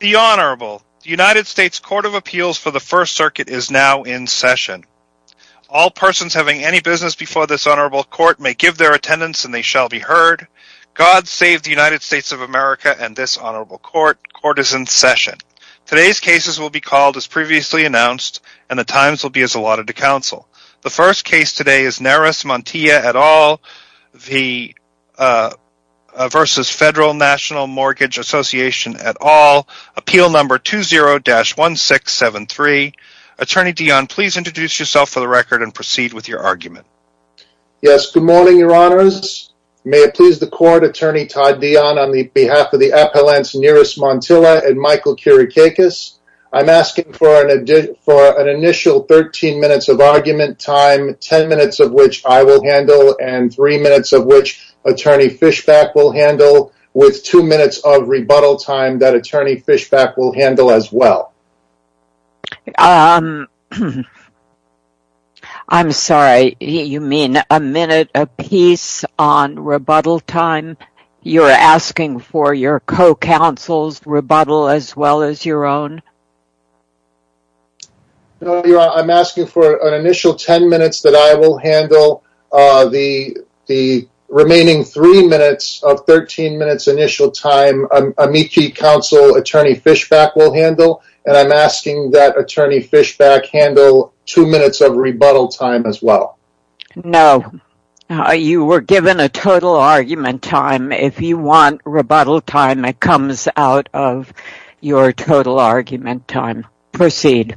The Honorable, the United States Court of Appeals for the First Circuit is now in session. All persons having any business before this Honorable Court may give their attendance and they shall be heard. God save the United States of America and this Honorable Court. Court is in session. Today's cases will be called as previously announced and the times will be as allotted to counsel. The first case today is Neris Montilla et al. v. Federal National Mortgage Association et al. Appeal number 20-1673. Attorney Dion, please introduce yourself for the record and proceed with your argument. Yes, good morning, Your Honors. May it please the Court, Attorney Todd Dion on behalf of the appellants Neris Montilla and Michael Kirikakis. I'm asking for an initial 13 minutes of argument time, 10 minutes of which I will handle and 3 minutes of which Attorney Fishback will handle. With 2 minutes of rebuttal time that Attorney Fishback will handle as well. I'm sorry, you mean a minute apiece on rebuttal time? You're asking for your co-counsel's rebuttal as well as your own? No, Your Honor. I'm asking for an initial 10 minutes that I will handle. The remaining 3 minutes of 13 minutes initial time, amici counsel Attorney Fishback will handle. And I'm asking that Attorney Fishback handle 2 minutes of rebuttal time as well. No. You were given a total argument time. If you want rebuttal time, it comes out of your total argument time. Proceed.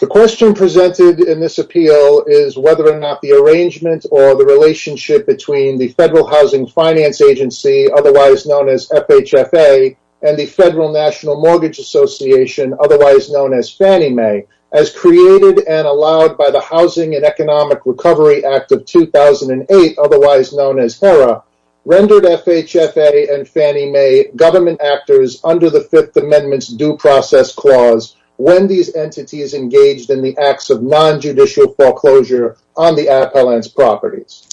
The question presented in this appeal is whether or not the arrangement or the relationship between the Federal Housing Finance Agency, otherwise known as FHFA, and the Federal National Mortgage Association, otherwise known as Fannie Mae, as created and allowed by the Housing and Economic Recovery Act of 2008, otherwise known as HERA, rendered FHFA and Fannie Mae government actors under the Fifth Amendment's Due Process Clause when these entities engaged in the acts of non-judicial foreclosure on the appellant's properties.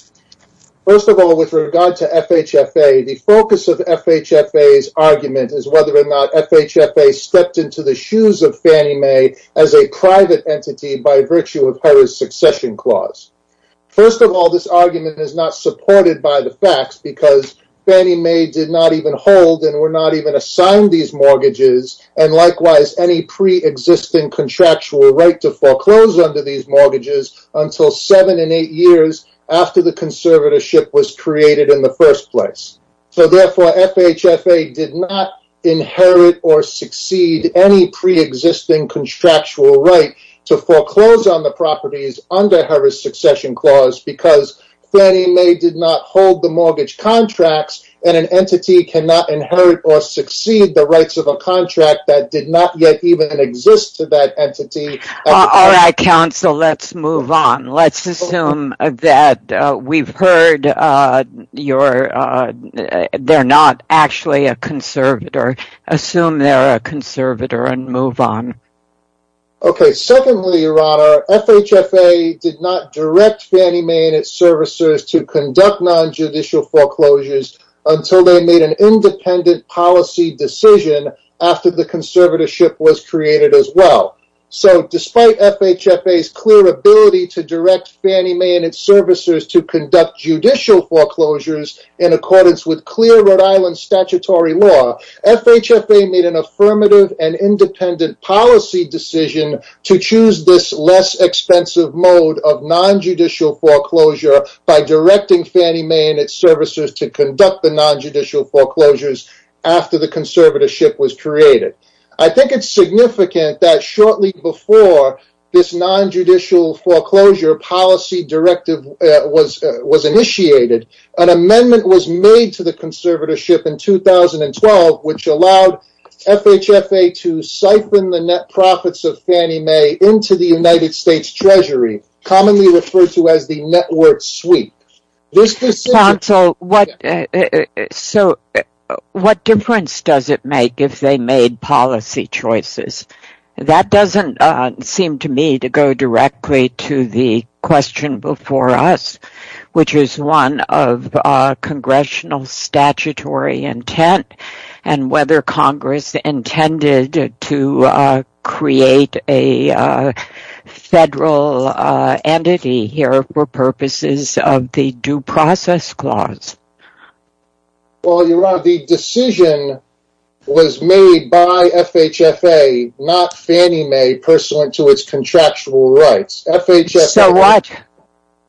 First of all, with regard to FHFA, the focus of FHFA's argument is whether or not FHFA stepped into the shoes of Fannie Mae as a private entity by virtue of HERA's succession clause. First of all, this argument is not supported by the facts because Fannie Mae did not even hold and were not even assigned these mortgages and likewise any pre-existing contractual right to foreclose under these mortgages until 7 and 8 years after the conservatorship was created in the first place. Therefore, FHFA did not inherit or succeed any pre-existing contractual right to foreclose on the properties under HERA's succession clause because Fannie Mae did not hold the mortgage contracts and an entity cannot inherit or succeed the rights of a contract that did not yet even exist to that entity. Alright, counsel, let's move on. Let's assume that we've heard they're not actually a conservator. Assume they're a conservator and move on. Secondly, your honor, FHFA did not direct Fannie Mae and its servicers to conduct non-judicial foreclosures until they made an independent policy decision after the conservatorship was created as well. So, despite FHFA's clear ability to direct Fannie Mae and its servicers to conduct judicial foreclosures in accordance with clear Rhode Island statutory law, FHFA made an affirmative and independent policy decision to choose this less expensive mode of non-judicial foreclosure by directing Fannie Mae and its servicers to conduct the non-judicial foreclosures after the conservatorship was created. I think it's significant that shortly before this non-judicial foreclosure policy directive was initiated, an amendment was made to the conservatorship in 2012 which allowed FHFA to siphon the net profits of Fannie Mae into the United States Treasury, commonly referred to as the net worth suite. Counsel, what difference does it make if they made policy choices? The decision was made by FHFA, not Fannie Mae, pursuant to its contractual rights. FHFA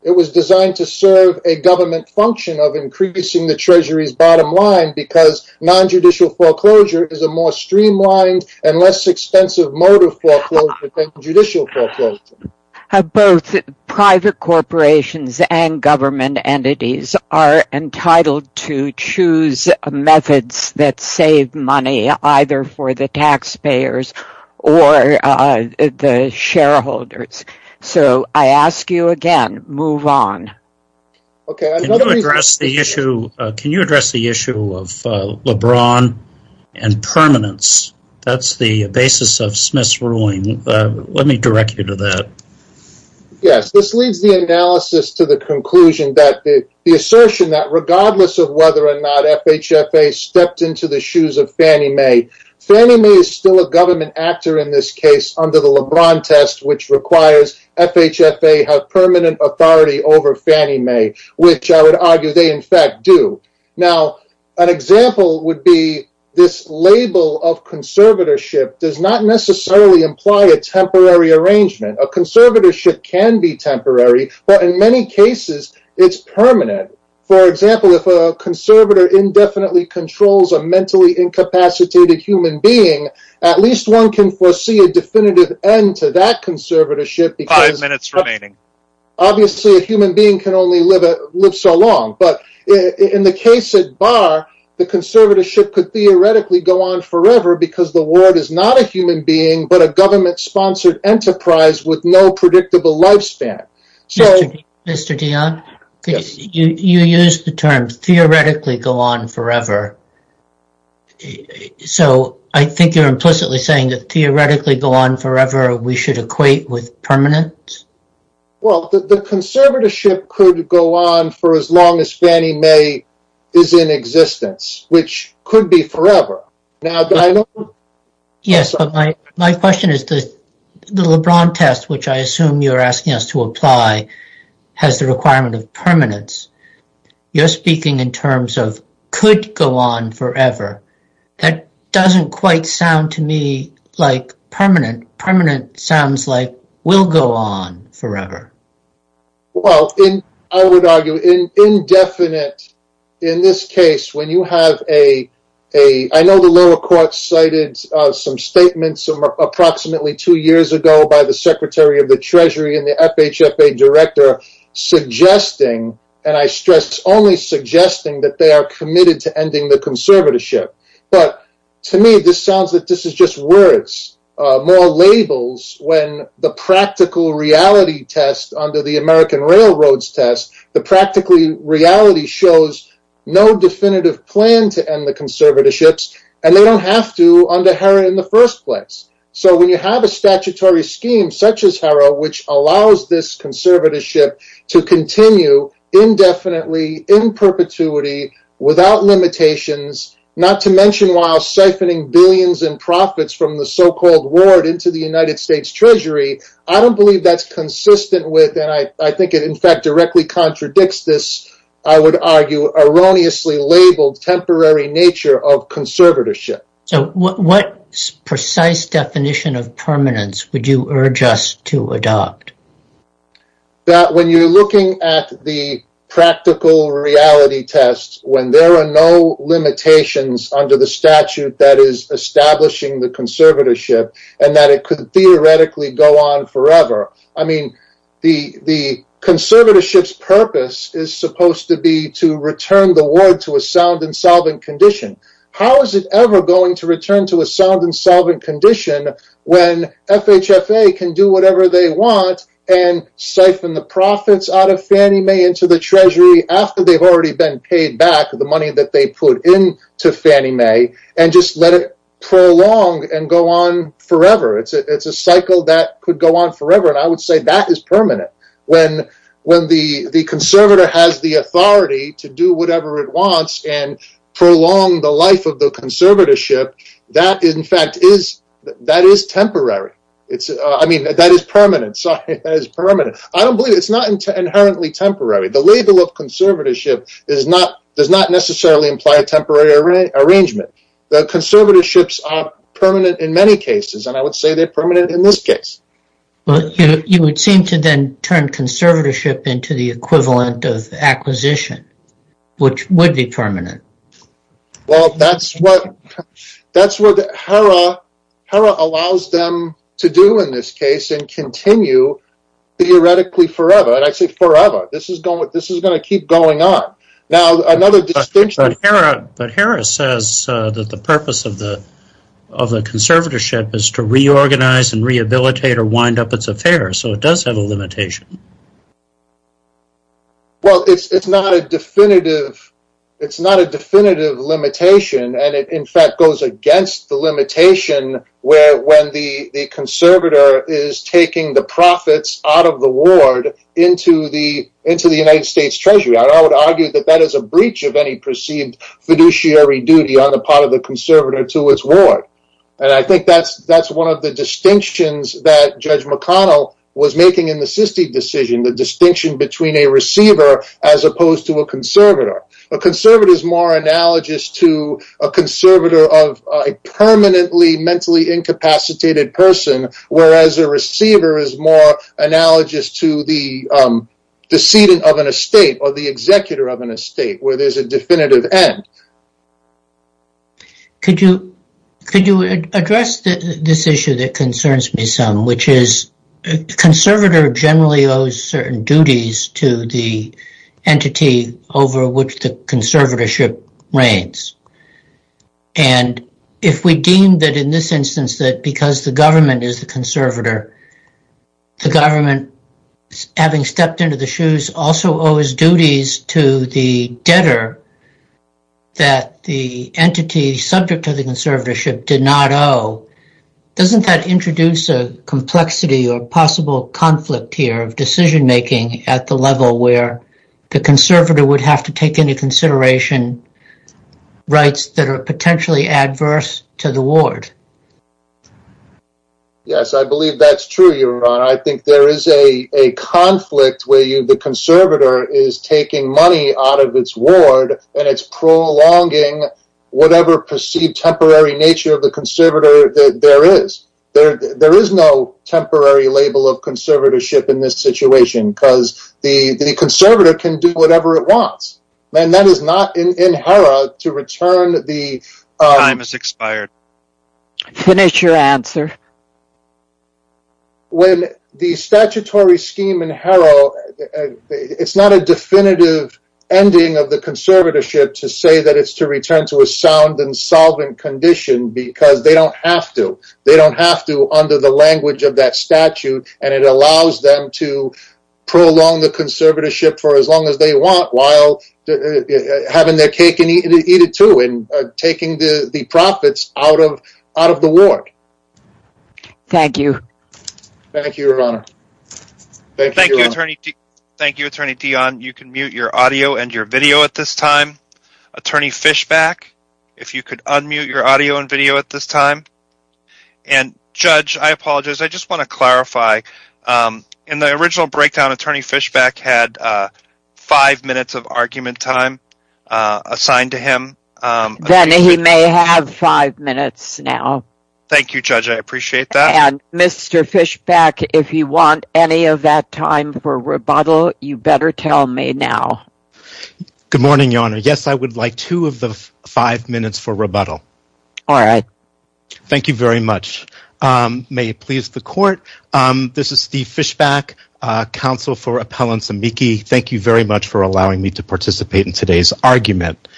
was designed to serve a government function of increasing the Treasury's bottom line because non-judicial foreclosure is a more streamlined and less expensive mode of foreclosure than judicial foreclosure. Both private corporations and government entities are entitled to choose methods that save money, either for the taxpayers or the shareholders. So I ask you again, move on. Can you address the issue of LeBron and permanence? That's the basis of Smith's ruling. Let me direct you to that. Yes, this leads the analysis to the conclusion that the assertion that regardless of whether or not FHFA stepped into the shoes of Fannie Mae, Fannie Mae is still a government actor in this case under the LeBron test which requires FHFA have permanent authority over Fannie Mae, which I would argue they in fact do. An example would be this label of conservatorship does not necessarily imply a temporary arrangement. A conservatorship can be temporary, but in many cases it's permanent. For example, if a conservator indefinitely controls a mentally incapacitated human being, at least one can foresee a definitive end to that conservatorship. Five minutes remaining. Obviously a human being can only live so long, but in the case of Barr, the conservatorship could theoretically go on forever because the world is not a human being, but a government-sponsored enterprise with no predictable lifespan. Mr. Dionne, you used the term theoretically go on forever, so I think you're implicitly saying that theoretically go on forever we should equate with permanence? Well, the conservatorship could go on for as long as Fannie Mae is in existence, which could be forever. Yes, but my question is the LeBron test which I assume you're asking us to apply has the requirement of permanence. You're speaking in terms of could go on forever. That doesn't quite sound to me like permanent. Permanent sounds like will go on forever. Well, I would argue indefinite in this case when you have a, I know the lower court cited some statements approximately two years ago by the secretary of the treasury and the FHFA director suggesting, and I stress only suggesting, that they are committed to ending the conservatorship. But to me this sounds like this is just words, more labels, when the practical reality test under the American Railroads test, the practical reality shows no definitive plan to end the conservatorships, and they don't have to under HERA in the first place. So when you have a statutory scheme such as HERA which allows this conservatorship to continue indefinitely, in perpetuity, without limitations, not to mention while siphoning billions in profits from the so-called ward into the United States treasury, I don't believe that's consistent with, and I think it in fact directly contradicts this, I would argue erroneously labeled temporary nature of conservatorship. So what precise definition of permanence would you urge us to adopt? That when you're looking at the practical reality test, when there are no limitations under the statute that is establishing the conservatorship, and that it could theoretically go on forever, I mean, the conservatorship's purpose is supposed to be to return the ward to a sound and solvent condition. How is it ever going to return to a sound and solvent condition when FHFA can do whatever they want and siphon the profits out of Fannie Mae into the treasury after they've already been paid back the money that they put into Fannie Mae, and just let it prolong and go on forever? It's a cycle that could go on forever, and I would say that is permanent. When the conservator has the authority to do whatever it wants and prolong the life of the conservatorship, that in fact is temporary. I mean, that is permanent. I don't believe it's not inherently temporary. The label of conservatorship does not necessarily imply a temporary arrangement. The conservatorships are permanent in many cases, and I would say they're permanent in this case. You would seem to then turn conservatorship into the equivalent of acquisition, which would be permanent. Well, that's what HERA allows them to do in this case and continue theoretically forever, and I say forever. This is going to keep going on. But HERA says that the purpose of the conservatorship is to reorganize and rehabilitate or wind up its affairs, so it does have a limitation. Well, it's not a definitive limitation, and it in fact goes against the limitation when the conservator is taking the profits out of the ward into the United States Treasury. I would argue that that is a breach of any perceived fiduciary duty on the part of the conservator to its ward. And I think that's one of the distinctions that Judge McConnell was making in the Sisti decision, the distinction between a receiver as opposed to a conservator. A conservator is more analogous to a conservator of a permanently mentally incapacitated person, whereas a receiver is more analogous to the decedent of an estate or the executor of an estate, where there's a definitive end. Could you address this issue that concerns me some, which is a conservator generally owes certain duties to the entity over which the conservatorship reigns. And if we deem that in this instance that because the government is the conservator, the government, having stepped into the shoes, also owes duties to the debtor that the entity subject to the conservatorship did not owe, doesn't that introduce a complexity or possible conflict here of decision-making at the level where the conservator would have to take into consideration rights that are potentially adverse to the ward? Yes, I believe that's true, Your Honor. I think there is a conflict where the conservator is taking money out of its ward and it's prolonging whatever perceived temporary nature of the conservator there is. There is no temporary label of conservatorship in this situation, because the conservator can do whatever it wants. Time has expired. Finish your answer. When the statutory scheme in Harrow, it's not a definitive ending of the conservatorship to say that it's to return to a sound and solvent condition, because they don't have to. They don't have to under the language of that statute, and it allows them to prolong the conservatorship for as long as they want while having their cake and eat it too and taking the profits out of the ward. Thank you. Thank you, Your Honor. Thank you, Attorney Dionne. You can mute your audio and your video at this time. Attorney Fishback, if you could unmute your audio and video at this time. And, Judge, I apologize, I just want to clarify, in the original breakdown, Attorney Fishback had five minutes of argument time assigned to him. Then he may have five minutes now. Thank you, Judge, I appreciate that. And, Mr. Fishback, if you want any of that time for rebuttal, you better tell me now. Good morning, Your Honor. Yes, I would like two of the five minutes for rebuttal. All right. Thank you very much. May it please the Court, this is Steve Fishback, Counsel for Appellants, amici. Thank you very much for allowing me to participate in today's argument.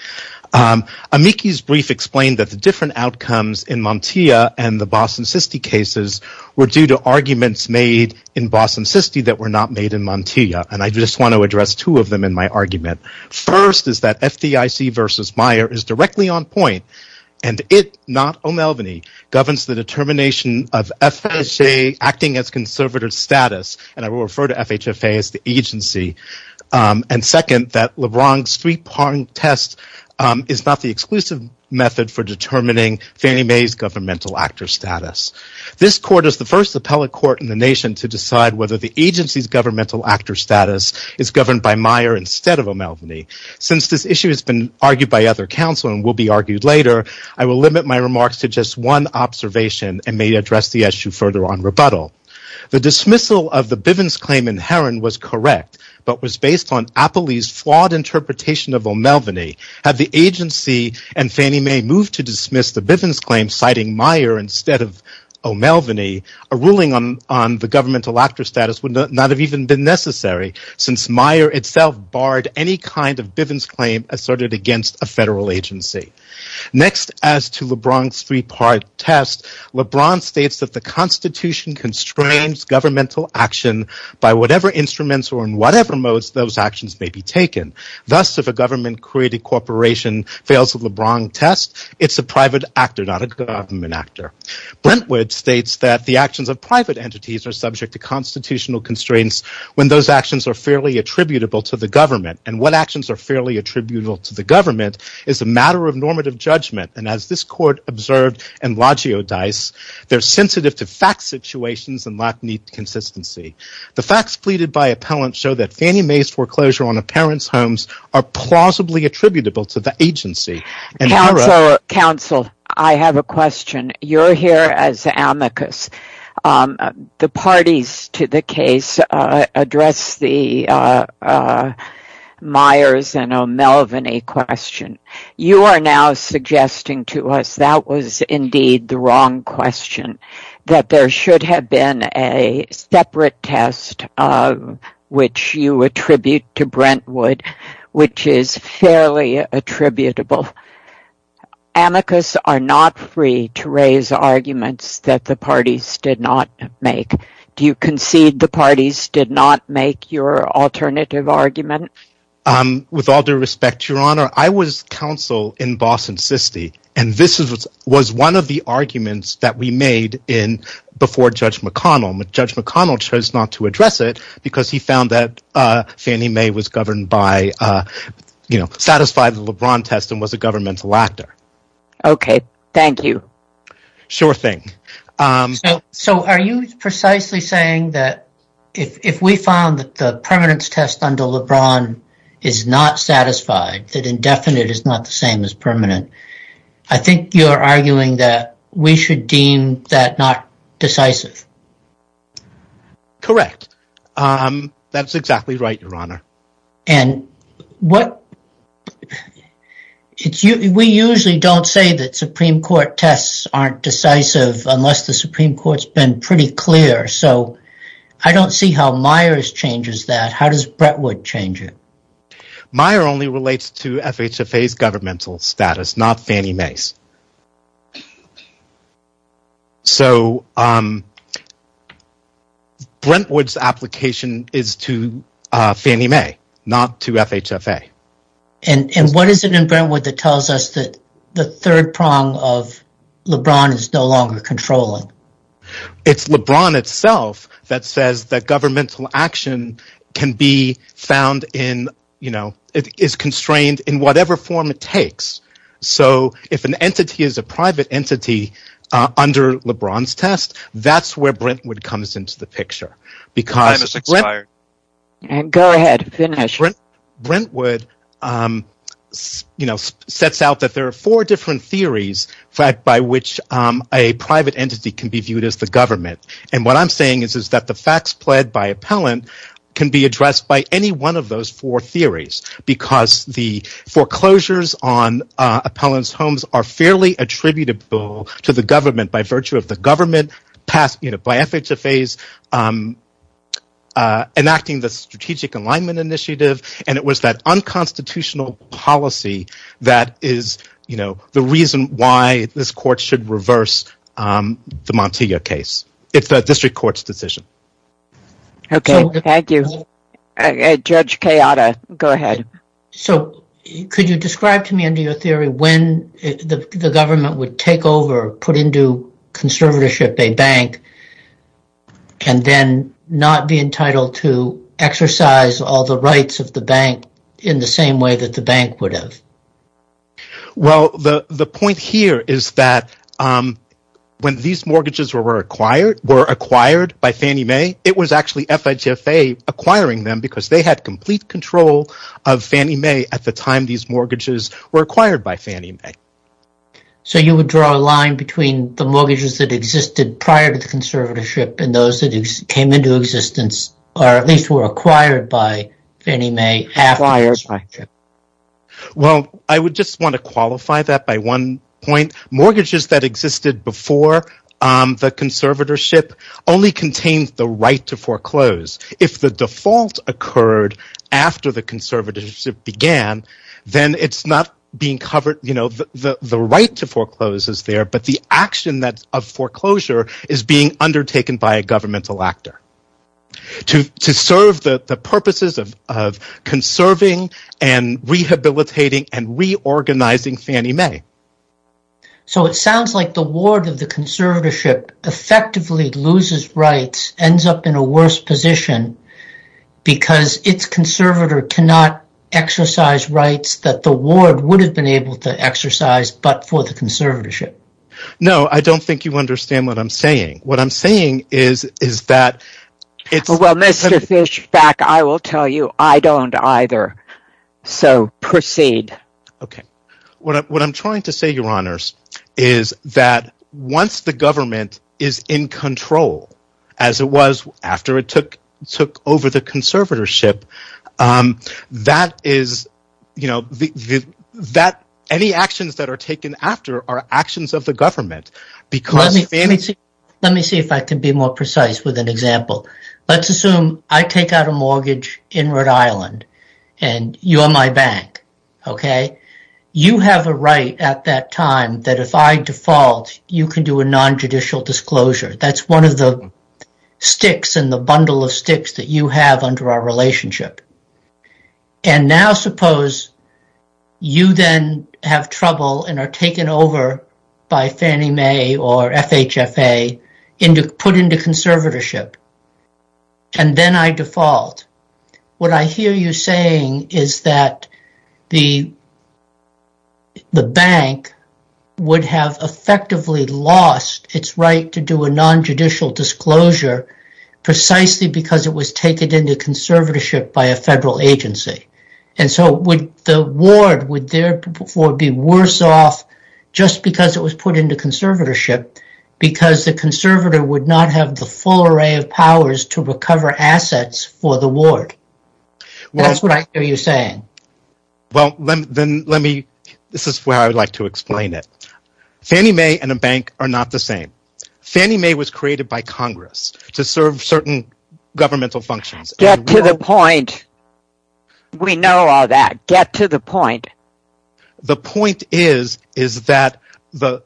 Amici's brief explained that the different outcomes in Montia and the Boston-Siste cases were due to arguments made in Boston-Siste that were not made in Montia. And I just want to address two of them in my argument. First is that FDIC v. Meyer is directly on point and it, not O'Melveny, governs the determination of FHFA acting as conservative status. And I will refer to FHFA as the agency. And second, that LeBron's three-point test is not the exclusive method for determining Fannie Mae's governmental actor status. This Court is the first appellate court in the nation to decide whether the agency's governmental actor status is governed by Meyer instead of O'Melveny. Since this issue has been argued by other counsel and will be argued later, I will limit my remarks to just one observation and may address the issue further on rebuttal. The dismissal of the Bivens claim in Heron was correct, but was based on Apolli's flawed interpretation of O'Melveny. Had the agency and Fannie Mae moved to dismiss the Bivens claim, citing Meyer instead of O'Melveny, a ruling on the governmental actor status would not have even been necessary since Meyer itself barred any kind of Bivens claim asserted against a federal agency. Next, as to LeBron's three-part test, LeBron states that the Constitution constrains governmental action by whatever instruments or in whatever modes those actions may be taken. Thus, if a government-created corporation fails the LeBron test, it's a private actor, not a government actor. Brentwood states that the actions of private entities are subject to constitutional constraints when those actions are fairly attributable to the government. What actions are fairly attributable to the government is a matter of normative judgment. As this court observed in Loggio Dice, they're sensitive to fact situations and lack neat consistency. The facts pleaded by appellants show that Fannie Mae's foreclosure on a parent's homes are plausibly attributable to the agency. Counsel, I have a question. You're here as amicus. The parties to the case addressed the Meyers and O'Melveny question. You are now suggesting to us that there should have been a separate test of which you attribute to Brentwood, which is fairly attributable. Amicus are not free to raise arguments that the parties did not make. Do you concede the parties did not make your alternative argument? With all due respect, Your Honor, I was counsel in Boston SISTE, and this was one of the arguments that we made before Judge McConnell. Judge McConnell chose not to address it because he found that Fannie Mae satisfied the LeBron test and was a governmental actor. Okay. Thank you. Sure thing. So are you precisely saying that if we found that the permanence test under LeBron is not satisfied, that indefinite is not the same as permanent, I think you're arguing that we should deem that not decisive. Correct. That's exactly right, Your Honor. We usually don't say that Supreme Court tests aren't decisive unless the Supreme Court has been pretty clear, so I don't see how Meyers changes that. How does Brentwood change it? Meyers only relates to FHFA's governmental status, not Fannie Mae's. So Brentwood's application is to Fannie Mae, not to FHFA. And what is it in Brentwood that tells us that the third prong of LeBron is no longer controlling? It's LeBron itself that says that governmental action is constrained in whatever form it takes. So if an entity is a private entity under LeBron's test, that's where Brentwood comes into the picture. Go ahead. Finish. Brentwood sets out that there are four different theories by which a private entity can be viewed as the government. And what I'm saying is that the facts pled by appellant can be addressed by any one of those four theories, because the foreclosures on appellant's homes are fairly attributable to the government by virtue of the government, by FHFA's enacting the strategic alignment initiative, and it was that unconstitutional policy that is the reason why this court should reverse the Montoya case. It's the district court's decision. Okay. Thank you. Judge Kayada, go ahead. So could you describe to me under your theory when the government would take over, put into conservatorship a bank, and then not be entitled to exercise all the rights of the bank in the same way that the bank would have? Well, the point here is that when these mortgages were acquired by Fannie Mae, it was actually FHFA acquiring them because they had complete control of Fannie Mae at the time these mortgages were acquired by Fannie Mae. So you would draw a line between the mortgages that existed prior to the conservatorship and those that came into existence or at least were acquired by Fannie Mae after the conservatorship? Well, I would just want to qualify that by one point. Mortgages that existed before the conservatorship only contained the right to foreclose. If the default occurred after the conservatorship began, then it's not being covered. The right to foreclose is there, but the action of foreclosure is being undertaken by a governmental actor to serve the purposes of conserving and rehabilitating and reorganizing Fannie Mae. So it sounds like the ward of the conservatorship effectively loses rights, ends up in a worse position because its conservator cannot exercise rights that the ward would have been able to exercise but for the conservatorship. No, I don't think you understand what I'm saying. What I'm saying is that it's… Well, Mr. Fischbach, I will tell you I don't either, so proceed. What I'm trying to say, Your Honors, is that once the government is in control as it was after it took over the conservatorship, any actions that are taken after are actions of the government because Fannie… Let me see if I can be more precise with an example. Let's assume I take out a mortgage in Rhode Island and you're my bank. You have a right at that time that if I default, you can do a nonjudicial disclosure. That's one of the sticks in the bundle of sticks that you have under our relationship. And now suppose you then have trouble and are taken over by Fannie Mae or FHFA and put into conservatorship, and then I default. What I hear you saying is that the bank would have effectively lost its right to do a nonjudicial disclosure precisely because it was taken into conservatorship by a federal agency. And so the ward would therefore be worse off just because it was put into conservatorship because the conservator would not have the full array of powers to recover assets for the ward. That's what I hear you saying. This is where I would like to explain it. Fannie Mae and a bank are not the same. Fannie Mae was created by Congress to serve certain governmental functions. Get to the point. We know all that. Get to the point. The point is that the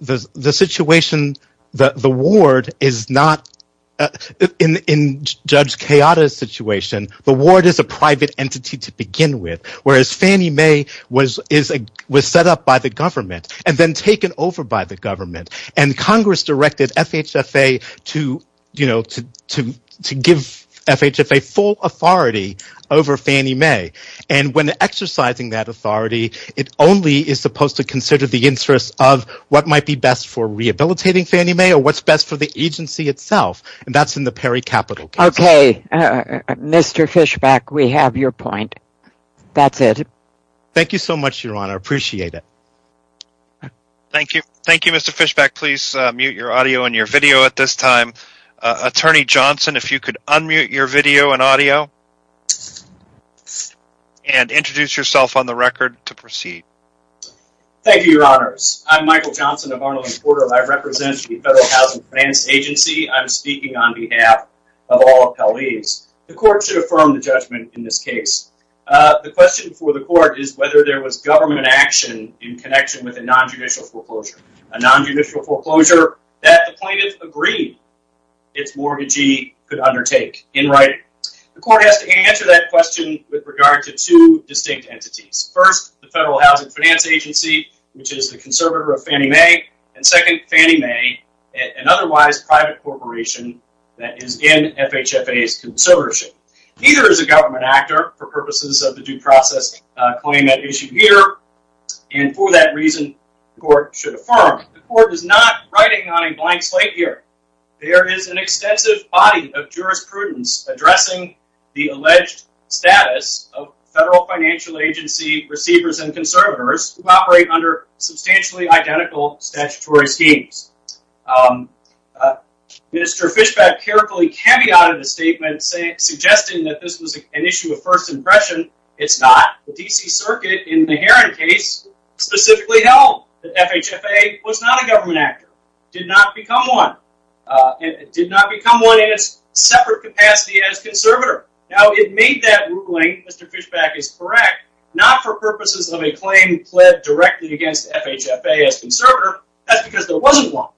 ward is a private entity to begin with, whereas Fannie Mae was set up by the government and then taken over by the government, and Congress directed FHFA to give FHFA full authority over Fannie Mae. And when exercising that authority, it only is supposed to consider the interests of what might be best for rehabilitating Fannie Mae or what's best for the agency itself, and that's in the PERI capital case. Okay. Mr. Fishback, we have your point. That's it. Thank you so much, Your Honor. I appreciate it. Thank you. Thank you, Mr. Fishback. Please mute your audio and your video at this time. Attorney Johnson, if you could unmute your video and audio and introduce yourself on the record to proceed. Thank you, Your Honors. I'm Michael Johnson of Arnold and Porter. I represent the Federal Housing Finance Agency. I'm speaking on behalf of all appellees. The court should affirm the judgment in this case. The question for the court is whether there was government action in connection with a nonjudicial foreclosure. A nonjudicial foreclosure that the plaintiff agreed its mortgagee could undertake. In writing, the court has to answer that question with regard to two distinct entities. First, the Federal Housing Finance Agency, which is the conservator of Fannie Mae, and second, Fannie Mae, an otherwise private corporation that is in FHFA's conservatorship. Neither is a government actor for purposes of the due process claim at issue here, and for that reason, the court should affirm. The court is not writing on a blank slate here. There is an extensive body of jurisprudence addressing the alleged status of Federal Financial Agency receivers and conservators who operate under substantially identical statutory schemes. Minister Fishback carefully cameoed in a statement suggesting that this was an issue of first impression. It's not. The D.C. Circuit in the Heron case specifically held that FHFA was not a government actor. It did not become one. It did not become one in its separate capacity as conservator. Now, it made that ruling, Mr. Fishback is correct, not for purposes of a claim pled directly against FHFA as conservator. That's because there wasn't one.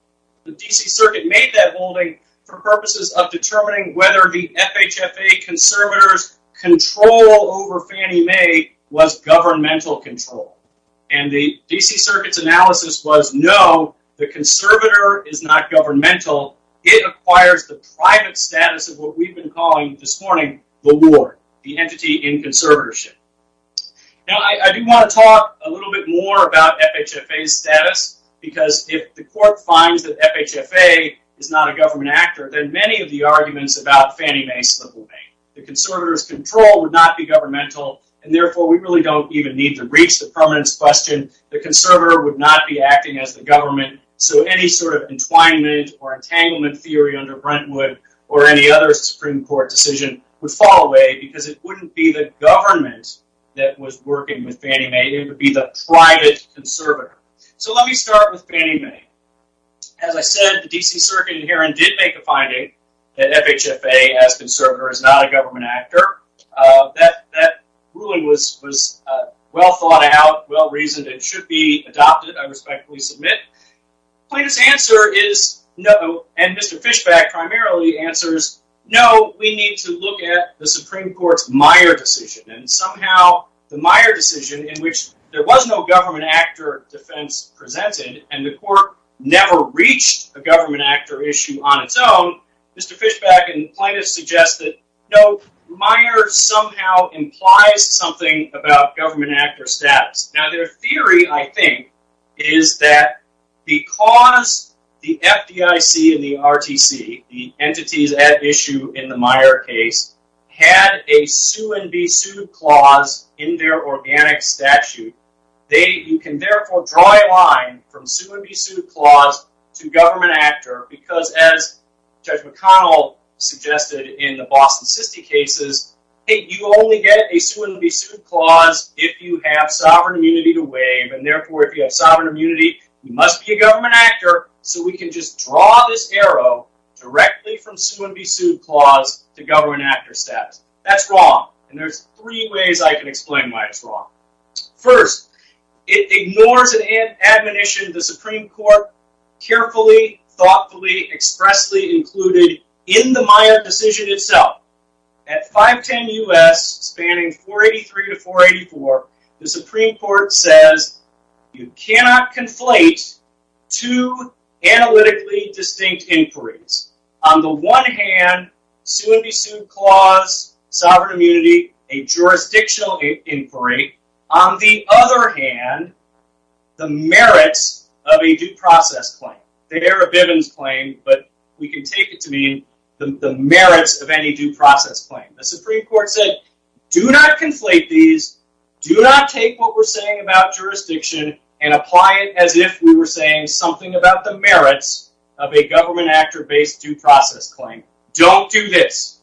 The D.C. Circuit made that ruling for purposes of determining whether the FHFA conservator's control over Fannie Mae was governmental control, and the D.C. Circuit's analysis was no, the conservator is not governmental. It acquires the private status of what we've been calling this morning the ward, the entity in conservatorship. Now, I do want to talk a little bit more about FHFA's status because if the court finds that FHFA is not a government actor, then many of the arguments about Fannie Mae slip away. The conservator's control would not be governmental, and therefore we really don't even need to reach the permanence question. The conservator would not be acting as the government, so any sort of entwinement or entanglement theory under Brentwood or any other Supreme Court decision would fall away because it wouldn't be the government that was working with Fannie Mae. So let me start with Fannie Mae. As I said, the D.C. Circuit in Heron did make a finding that FHFA as conservator is not a government actor. That ruling was well thought out, well reasoned, and should be adopted, I respectfully submit. Plaintiff's answer is no, and Mr. Fishback primarily answers, no, we need to look at the Supreme Court's Meyer decision, and somehow the Meyer decision in which there was no government actor defense presented and the court never reached a government actor issue on its own, Mr. Fishback and plaintiffs suggested, no, Meyer somehow implies something about government actor status. Now their theory, I think, is that because the FDIC and the RTC, the entities at issue in the Meyer case, had a sue-and-be-sued clause in their organic statute, you can therefore draw a line from sue-and-be-sued clause to government actor because as Judge McConnell suggested in the Boston City cases, you only get a sue-and-be-sued clause if you have sovereign immunity to waive, and therefore if you have sovereign immunity, you must be a government actor, so we can just draw this arrow directly from sue-and-be-sued clause to government actor status. That's wrong, and there's three ways I can explain why it's wrong. First, it ignores an admonition the Supreme Court carefully, thoughtfully, expressly included in the Meyer decision itself. At 510 U.S., spanning 483 to 484, the Supreme Court says you cannot conflate two analytically distinct inquiries. On the one hand, sue-and-be-sued clause, sovereign immunity, a jurisdictional inquiry. On the other hand, the merits of a due process claim. They're a Bivens claim, but we can take it to mean the merits of any due process claim. The Supreme Court said, do not conflate these, do not take what we're saying about jurisdiction and apply it as if we were saying something about the merits of a government actor-based due process claim. Don't do this.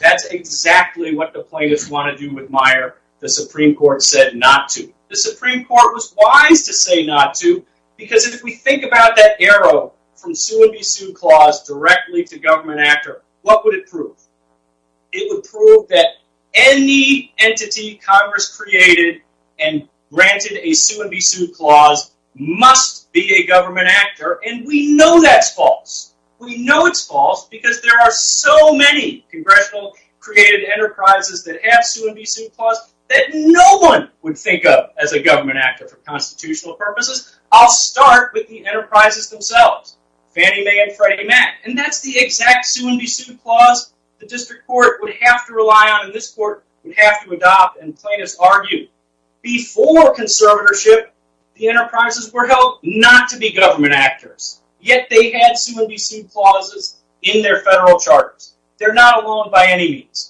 That's exactly what the plaintiffs want to do with Meyer. The Supreme Court said not to. The Supreme Court was wise to say not to, because if we think about that arrow from sue-and-be-sued clause directly to government actor, what would it prove? It would prove that any entity Congress created and granted a sue-and-be-sued clause must be a government actor, and we know that's false. We know it's false because there are so many Congressional-created enterprises that have sue-and-be-sued clause that no one would think of as a government actor for constitutional purposes. I'll start with the enterprises themselves, Fannie Mae and Freddie Mac, and that's the exact sue-and-be-sued clause the district court would have to rely on and this court would have to adopt and plaintiffs argue. Before conservatorship, the enterprises were held not to be government actors, yet they had sue-and-be-sued clauses in their federal charters. They're not alone by any means.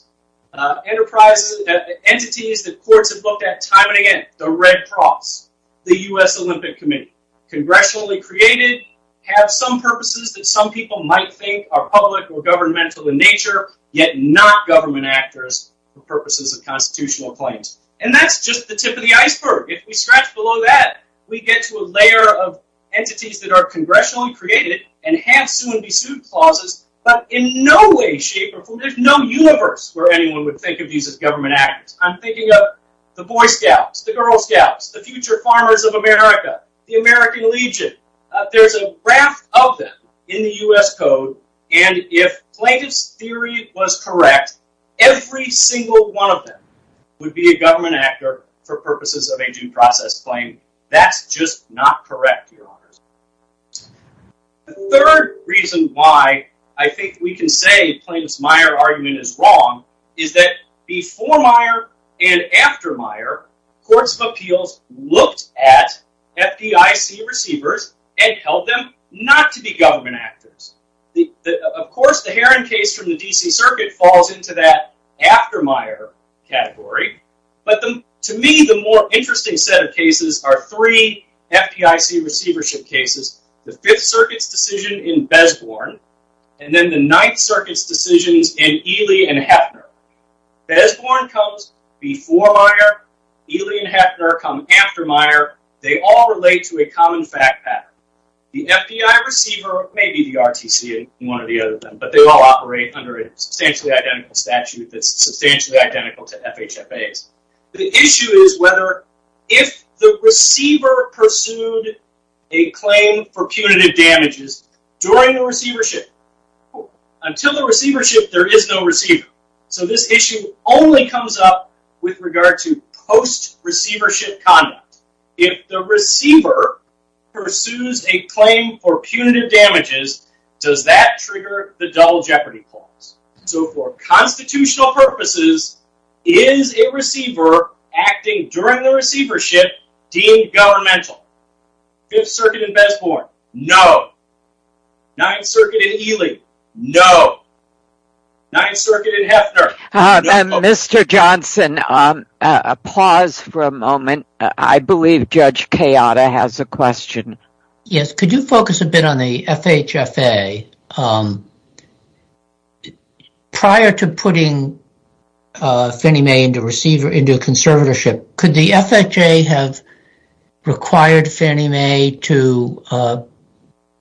Entities that courts have looked at time and again, the Red Cross, the U.S. Olympic Committee, congressionally created, have some purposes that some people might think are public or governmental in nature, yet not government actors for purposes of constitutional claims. And that's just the tip of the iceberg. If we scratch below that, we get to a layer of entities that are congressionally created and have sue-and-be-sued clauses, but in no way, shape, or form. There's no universe where anyone would think of these as government actors. I'm thinking of the Boy Scouts, the Girl Scouts, the Future Farmers of America, the American Legion. There's a raft of them in the U.S. Code, and if plaintiff's theory was correct, every single one of them would be a government actor for purposes of a due process claim. That's just not correct, Your Honors. The third reason why I think we can say plaintiff's Meyer argument is wrong is that before Meyer and after Meyer, courts of appeals looked at FDIC receivers and held them not to be government actors. Of course, the Heron case from the D.C. Circuit falls into that after Meyer category, but to me, the more interesting set of cases are three FDIC receivership cases, the Fifth Circuit's decision in Besborn, and then the Ninth Circuit's decisions in Ely and Hefner. Besborn comes before Meyer, Ely and Hefner come after Meyer. They all relate to a common fact pattern. The FBI receiver may be the RTC in one or the other of them, but they all operate under a substantially identical statute that's substantially identical to FHFA's. The issue is whether if the receiver pursued a claim for punitive damages during the receivership, until the receivership, there is no receiver. So this issue only comes up with regard to post-receivership conduct. If the receiver pursues a claim for punitive damages, does that trigger the Dull Jeopardy clause? So for constitutional purposes, is a receiver acting during the receivership deemed governmental? Fifth Circuit in Besborn, no. Ninth Circuit in Ely, no. Mr. Johnson, a pause for a moment. I believe Judge Kayada has a question. Yes, could you focus a bit on the FHFA? Prior to putting Fannie Mae into conservatorship, could the FHFA have required Fannie Mae to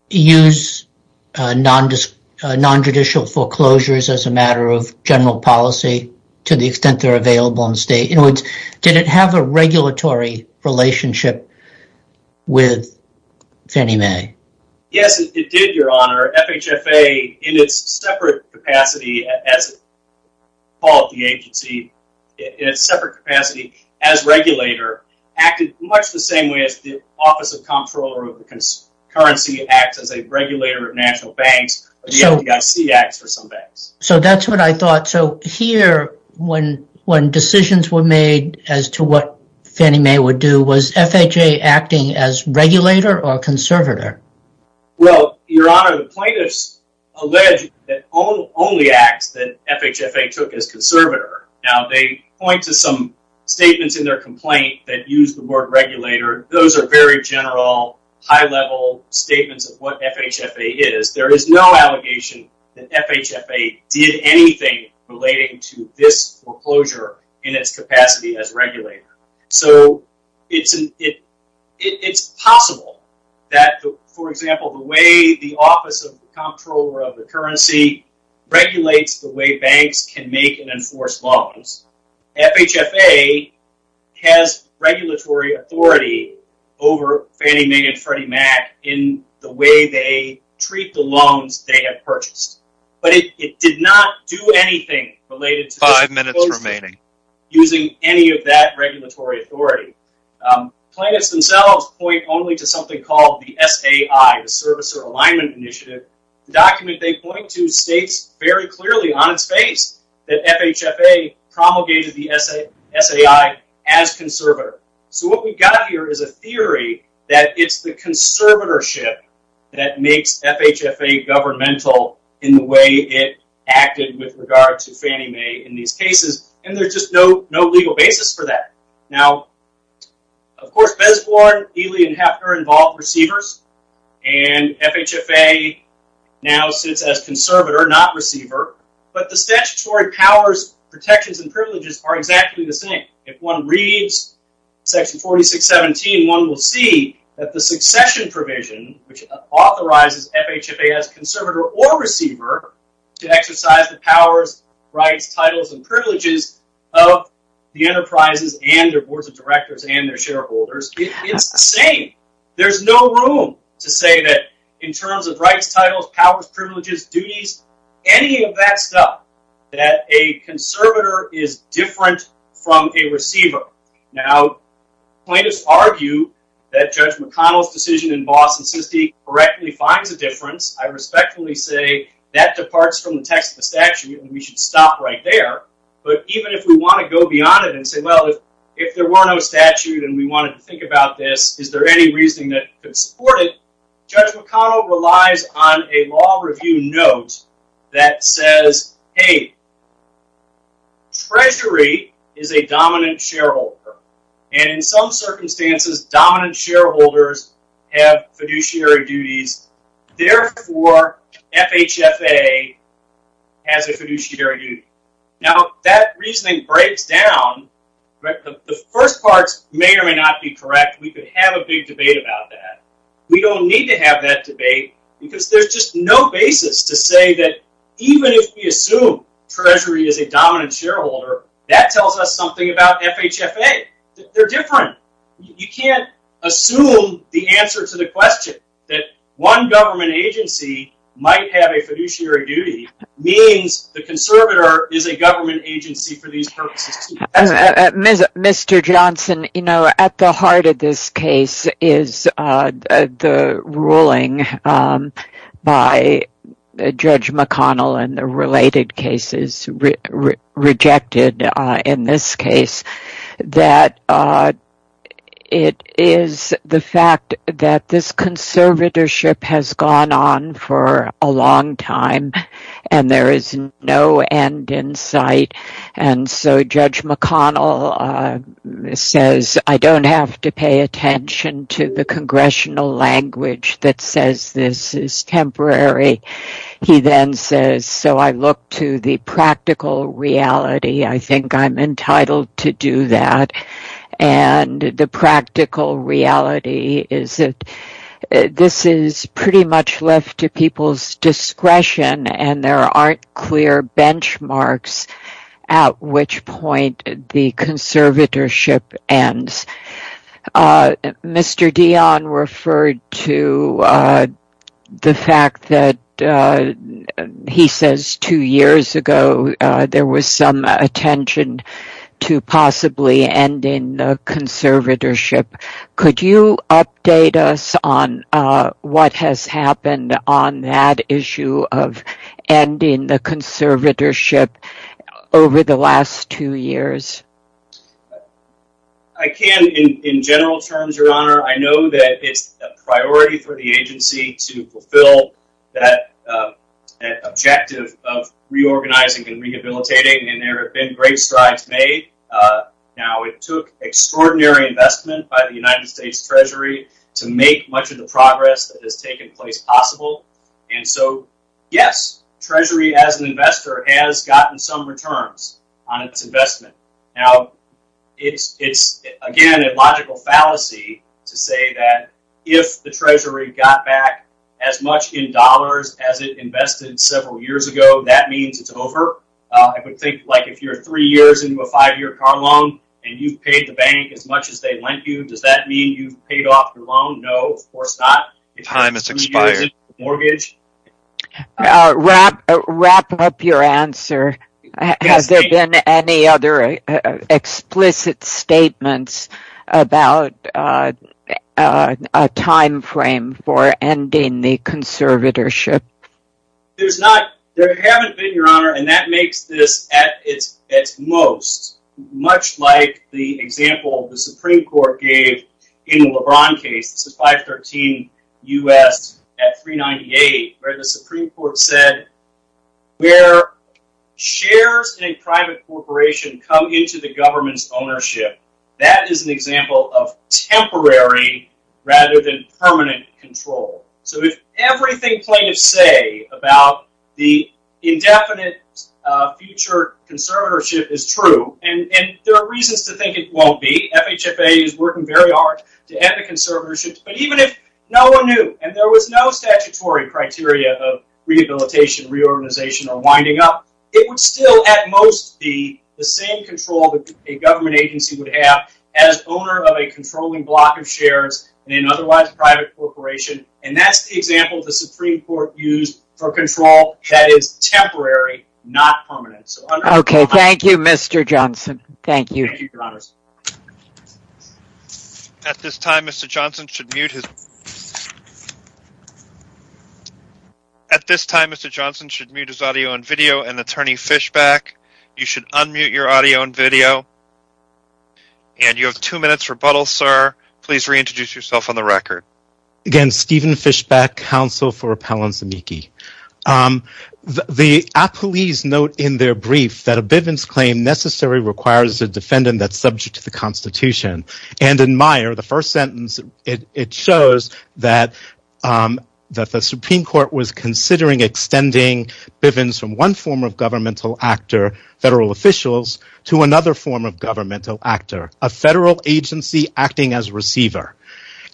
use nonjudicial foreclosures as a matter of general policy to the extent they're available in the state? In other words, did it have a regulatory relationship with Fannie Mae? FHFA, in its separate capacity as a regulator, acted much the same way as the Office of the Comptroller of the Currency, acts as a regulator of national banks, or the FDIC acts for some banks. So that's what I thought. So here, when decisions were made as to what Fannie Mae would do, was FHFA acting as regulator or conservator? Well, Your Honor, the plaintiffs allege that only acts that FHFA took as conservator. Now, they point to some statements in their complaint that use the word regulator. Those are very general, high-level statements of what FHFA is. There is no allegation that FHFA did anything relating to this foreclosure in its capacity as regulator. So it's possible that, for example, the way the Office of the Comptroller of the Currency regulates the way banks can make and enforce loans, FHFA has regulatory authority over Fannie Mae and Freddie Mac in the way they treat the loans they have purchased. But it did not do anything related to this foreclosure using any of that regulatory authority. Plaintiffs themselves point only to something called the SAI, the Servicer Alignment Initiative, a document they point to states very clearly on its face that FHFA promulgated the SAI as conservator. So what we've got here is a theory that it's the conservatorship that makes FHFA governmental in the way it acted with regard to Fannie Mae in these cases. And there's just no legal basis for that. Now, of course, Besborn, Ely, and Hefner involve receivers. And FHFA now sits as conservator, not receiver. But the statutory powers, protections, and privileges are exactly the same. If one reads section 4617, one will see that the succession provision, which authorizes FHFA as conservator or receiver to exercise the powers, rights, titles, and privileges of the enterprises and their boards of directors and their shareholders, it's the same. There's no room to say that in terms of rights, titles, powers, privileges, duties, any of that stuff, that a conservator is different from a receiver. Now, plaintiffs argue that Judge McConnell's decision in Boss and Sisti correctly finds a difference. I respectfully say that departs from the text of the statute, and we should stop right there. But even if we want to go beyond it and say, well, if there were no statute and we wanted to think about this, is there any reasoning that could support it? Judge McConnell relies on a law review note that says, hey, Treasury is a dominant shareholder. And in some circumstances, dominant shareholders have fiduciary duties. Therefore, FHFA has a fiduciary duty. Now, if that reasoning breaks down, the first parts may or may not be correct. We could have a big debate about that. We don't need to have that debate because there's just no basis to say that even if we assume Treasury is a dominant shareholder, that tells us something about FHFA. They're different. You can't assume the answer to the question that one government agency might have a fiduciary duty means the conservator is a government agency for these purposes. Mr. Johnson, you know, at the heart of this case is the ruling by Judge McConnell and the related cases rejected in this case, that it is the fact that this conservatorship has gone on for a long time and there is no end in sight. And so Judge McConnell says, I don't have to pay attention to the congressional language that says this is temporary. He then says, so I look to the practical reality. I think I'm entitled to do that. And the practical reality is that this is pretty much left to people's discretion and there aren't clear benchmarks at which point the conservatorship ends. Mr. Dion referred to the fact that he says two years ago, there was some attention to possibly ending the conservatorship. Could you update us on what has happened on that issue of ending the conservatorship over the last two years? I can in general terms, Your Honor. I know that it's a priority for the agency to fulfill that objective of reorganizing and rehabilitating. And there have been great strides made. Now, it took extraordinary investment by the United States Treasury to make much of the progress that has taken place possible. And so, yes, Treasury as an investor has gotten some returns on its investment. Now, it's again a logical fallacy to say that if the Treasury got back as much in dollars as it invested several years ago, that means it's over. I would think like if you're three years into a five-year car loan and you've paid the bank as much as they lent you, does that mean you've paid off your loan? No, of course not. Time has expired. Wrap up your answer. Has there been any other explicit statements about a time frame for ending the conservatorship? There's not. There haven't been, Your Honor, and that makes this at its most, much like the example the Supreme Court gave in the LeBron case. This is 513 U.S. at 398, where the Supreme Court said where shares in a private corporation come into the government's ownership, that is an example of temporary rather than permanent control. So if everything plaintiffs say about the indefinite future conservatorship is true, and there are reasons to think it won't be. FHFA is working very hard to end the conservatorship. But even if no one knew and there was no statutory criteria of rehabilitation, reorganization, or winding up, it would still at most be the same control that a government agency would have as owner of a controlling block of shares in an otherwise private corporation. And that's the example the Supreme Court used for control that is temporary, not permanent. Okay, thank you, Mr. Johnson. Thank you. Thank you, Your Honor. At this time, Mr. Johnson should mute his... At this time, Mr. Johnson should mute his audio and video, and Attorney Fishback, you should unmute your audio and video. And you have two minutes rebuttal, sir. Please reintroduce yourself on the record. Again, Stephen Fishback, counsel for Appellant Zemecki. The appellees note in their brief that a Bivens claim necessary requires a defendant that's subject to the Constitution. And in Meyer, the first sentence, it shows that the Supreme Court was considering extending Bivens from one form of governmental actor, federal officials, to another form of governmental actor, a federal agency acting as receiver.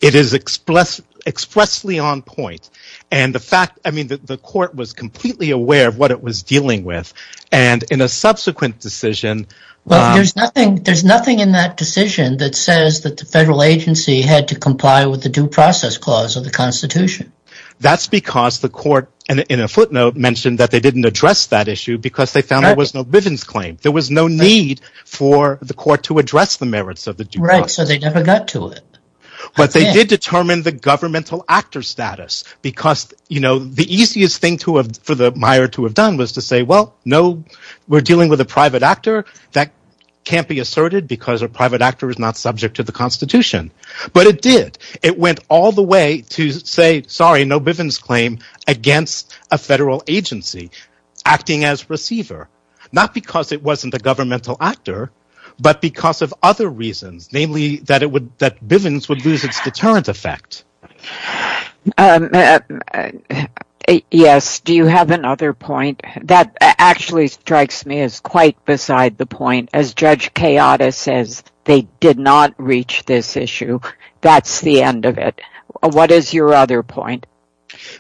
It is expressly on point. The court was completely aware of what it was dealing with, and in a subsequent decision... There's nothing in that decision that says that the federal agency had to comply with the due process clause of the Constitution. That's because the court, in a footnote, mentioned that they didn't address that issue because they found there was no Bivens claim. There was no need for the court to address the merits of the due process. Right, so they never got to it. But they did determine the governmental actor status because, you know, the easiest thing for Meyer to have done was to say, well, no, we're dealing with a private actor. That can't be asserted because a private actor is not subject to the Constitution. But it did. It went all the way to say, sorry, no Bivens claim against a federal agency acting as receiver. Not because it wasn't a governmental actor, but because of other reasons, namely that Bivens would lose its deterrent effect. Yes, do you have another point? That actually strikes me as quite beside the point. As Judge Kayada says, they did not reach this issue. That's the end of it. What is your other point?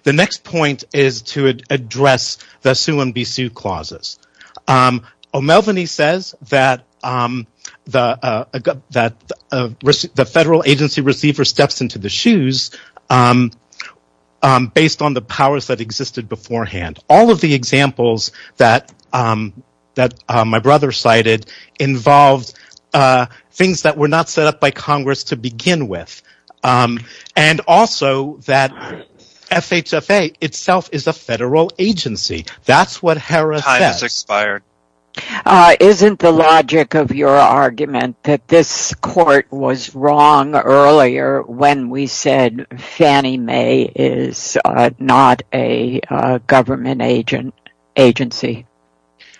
The next point is to address the sue-and-be-sue clauses. O'Melveny says that the federal agency receiver steps into the shoes based on the powers that existed beforehand. All of the examples that my brother cited involved things that were not set up by Congress to begin with. And also that FHFA itself is a federal agency. That's what Harris says. Isn't the logic of your argument that this court was wrong earlier when we said Fannie Mae is not a government agency?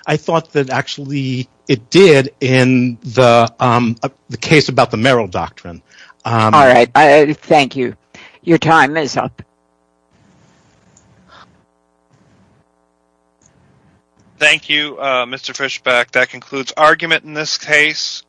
I thought that actually it did in the case about the Merrill Doctrine. All right, thank you. Your time is up. Thank you, Mr. Fischbach. That concludes argument in this case.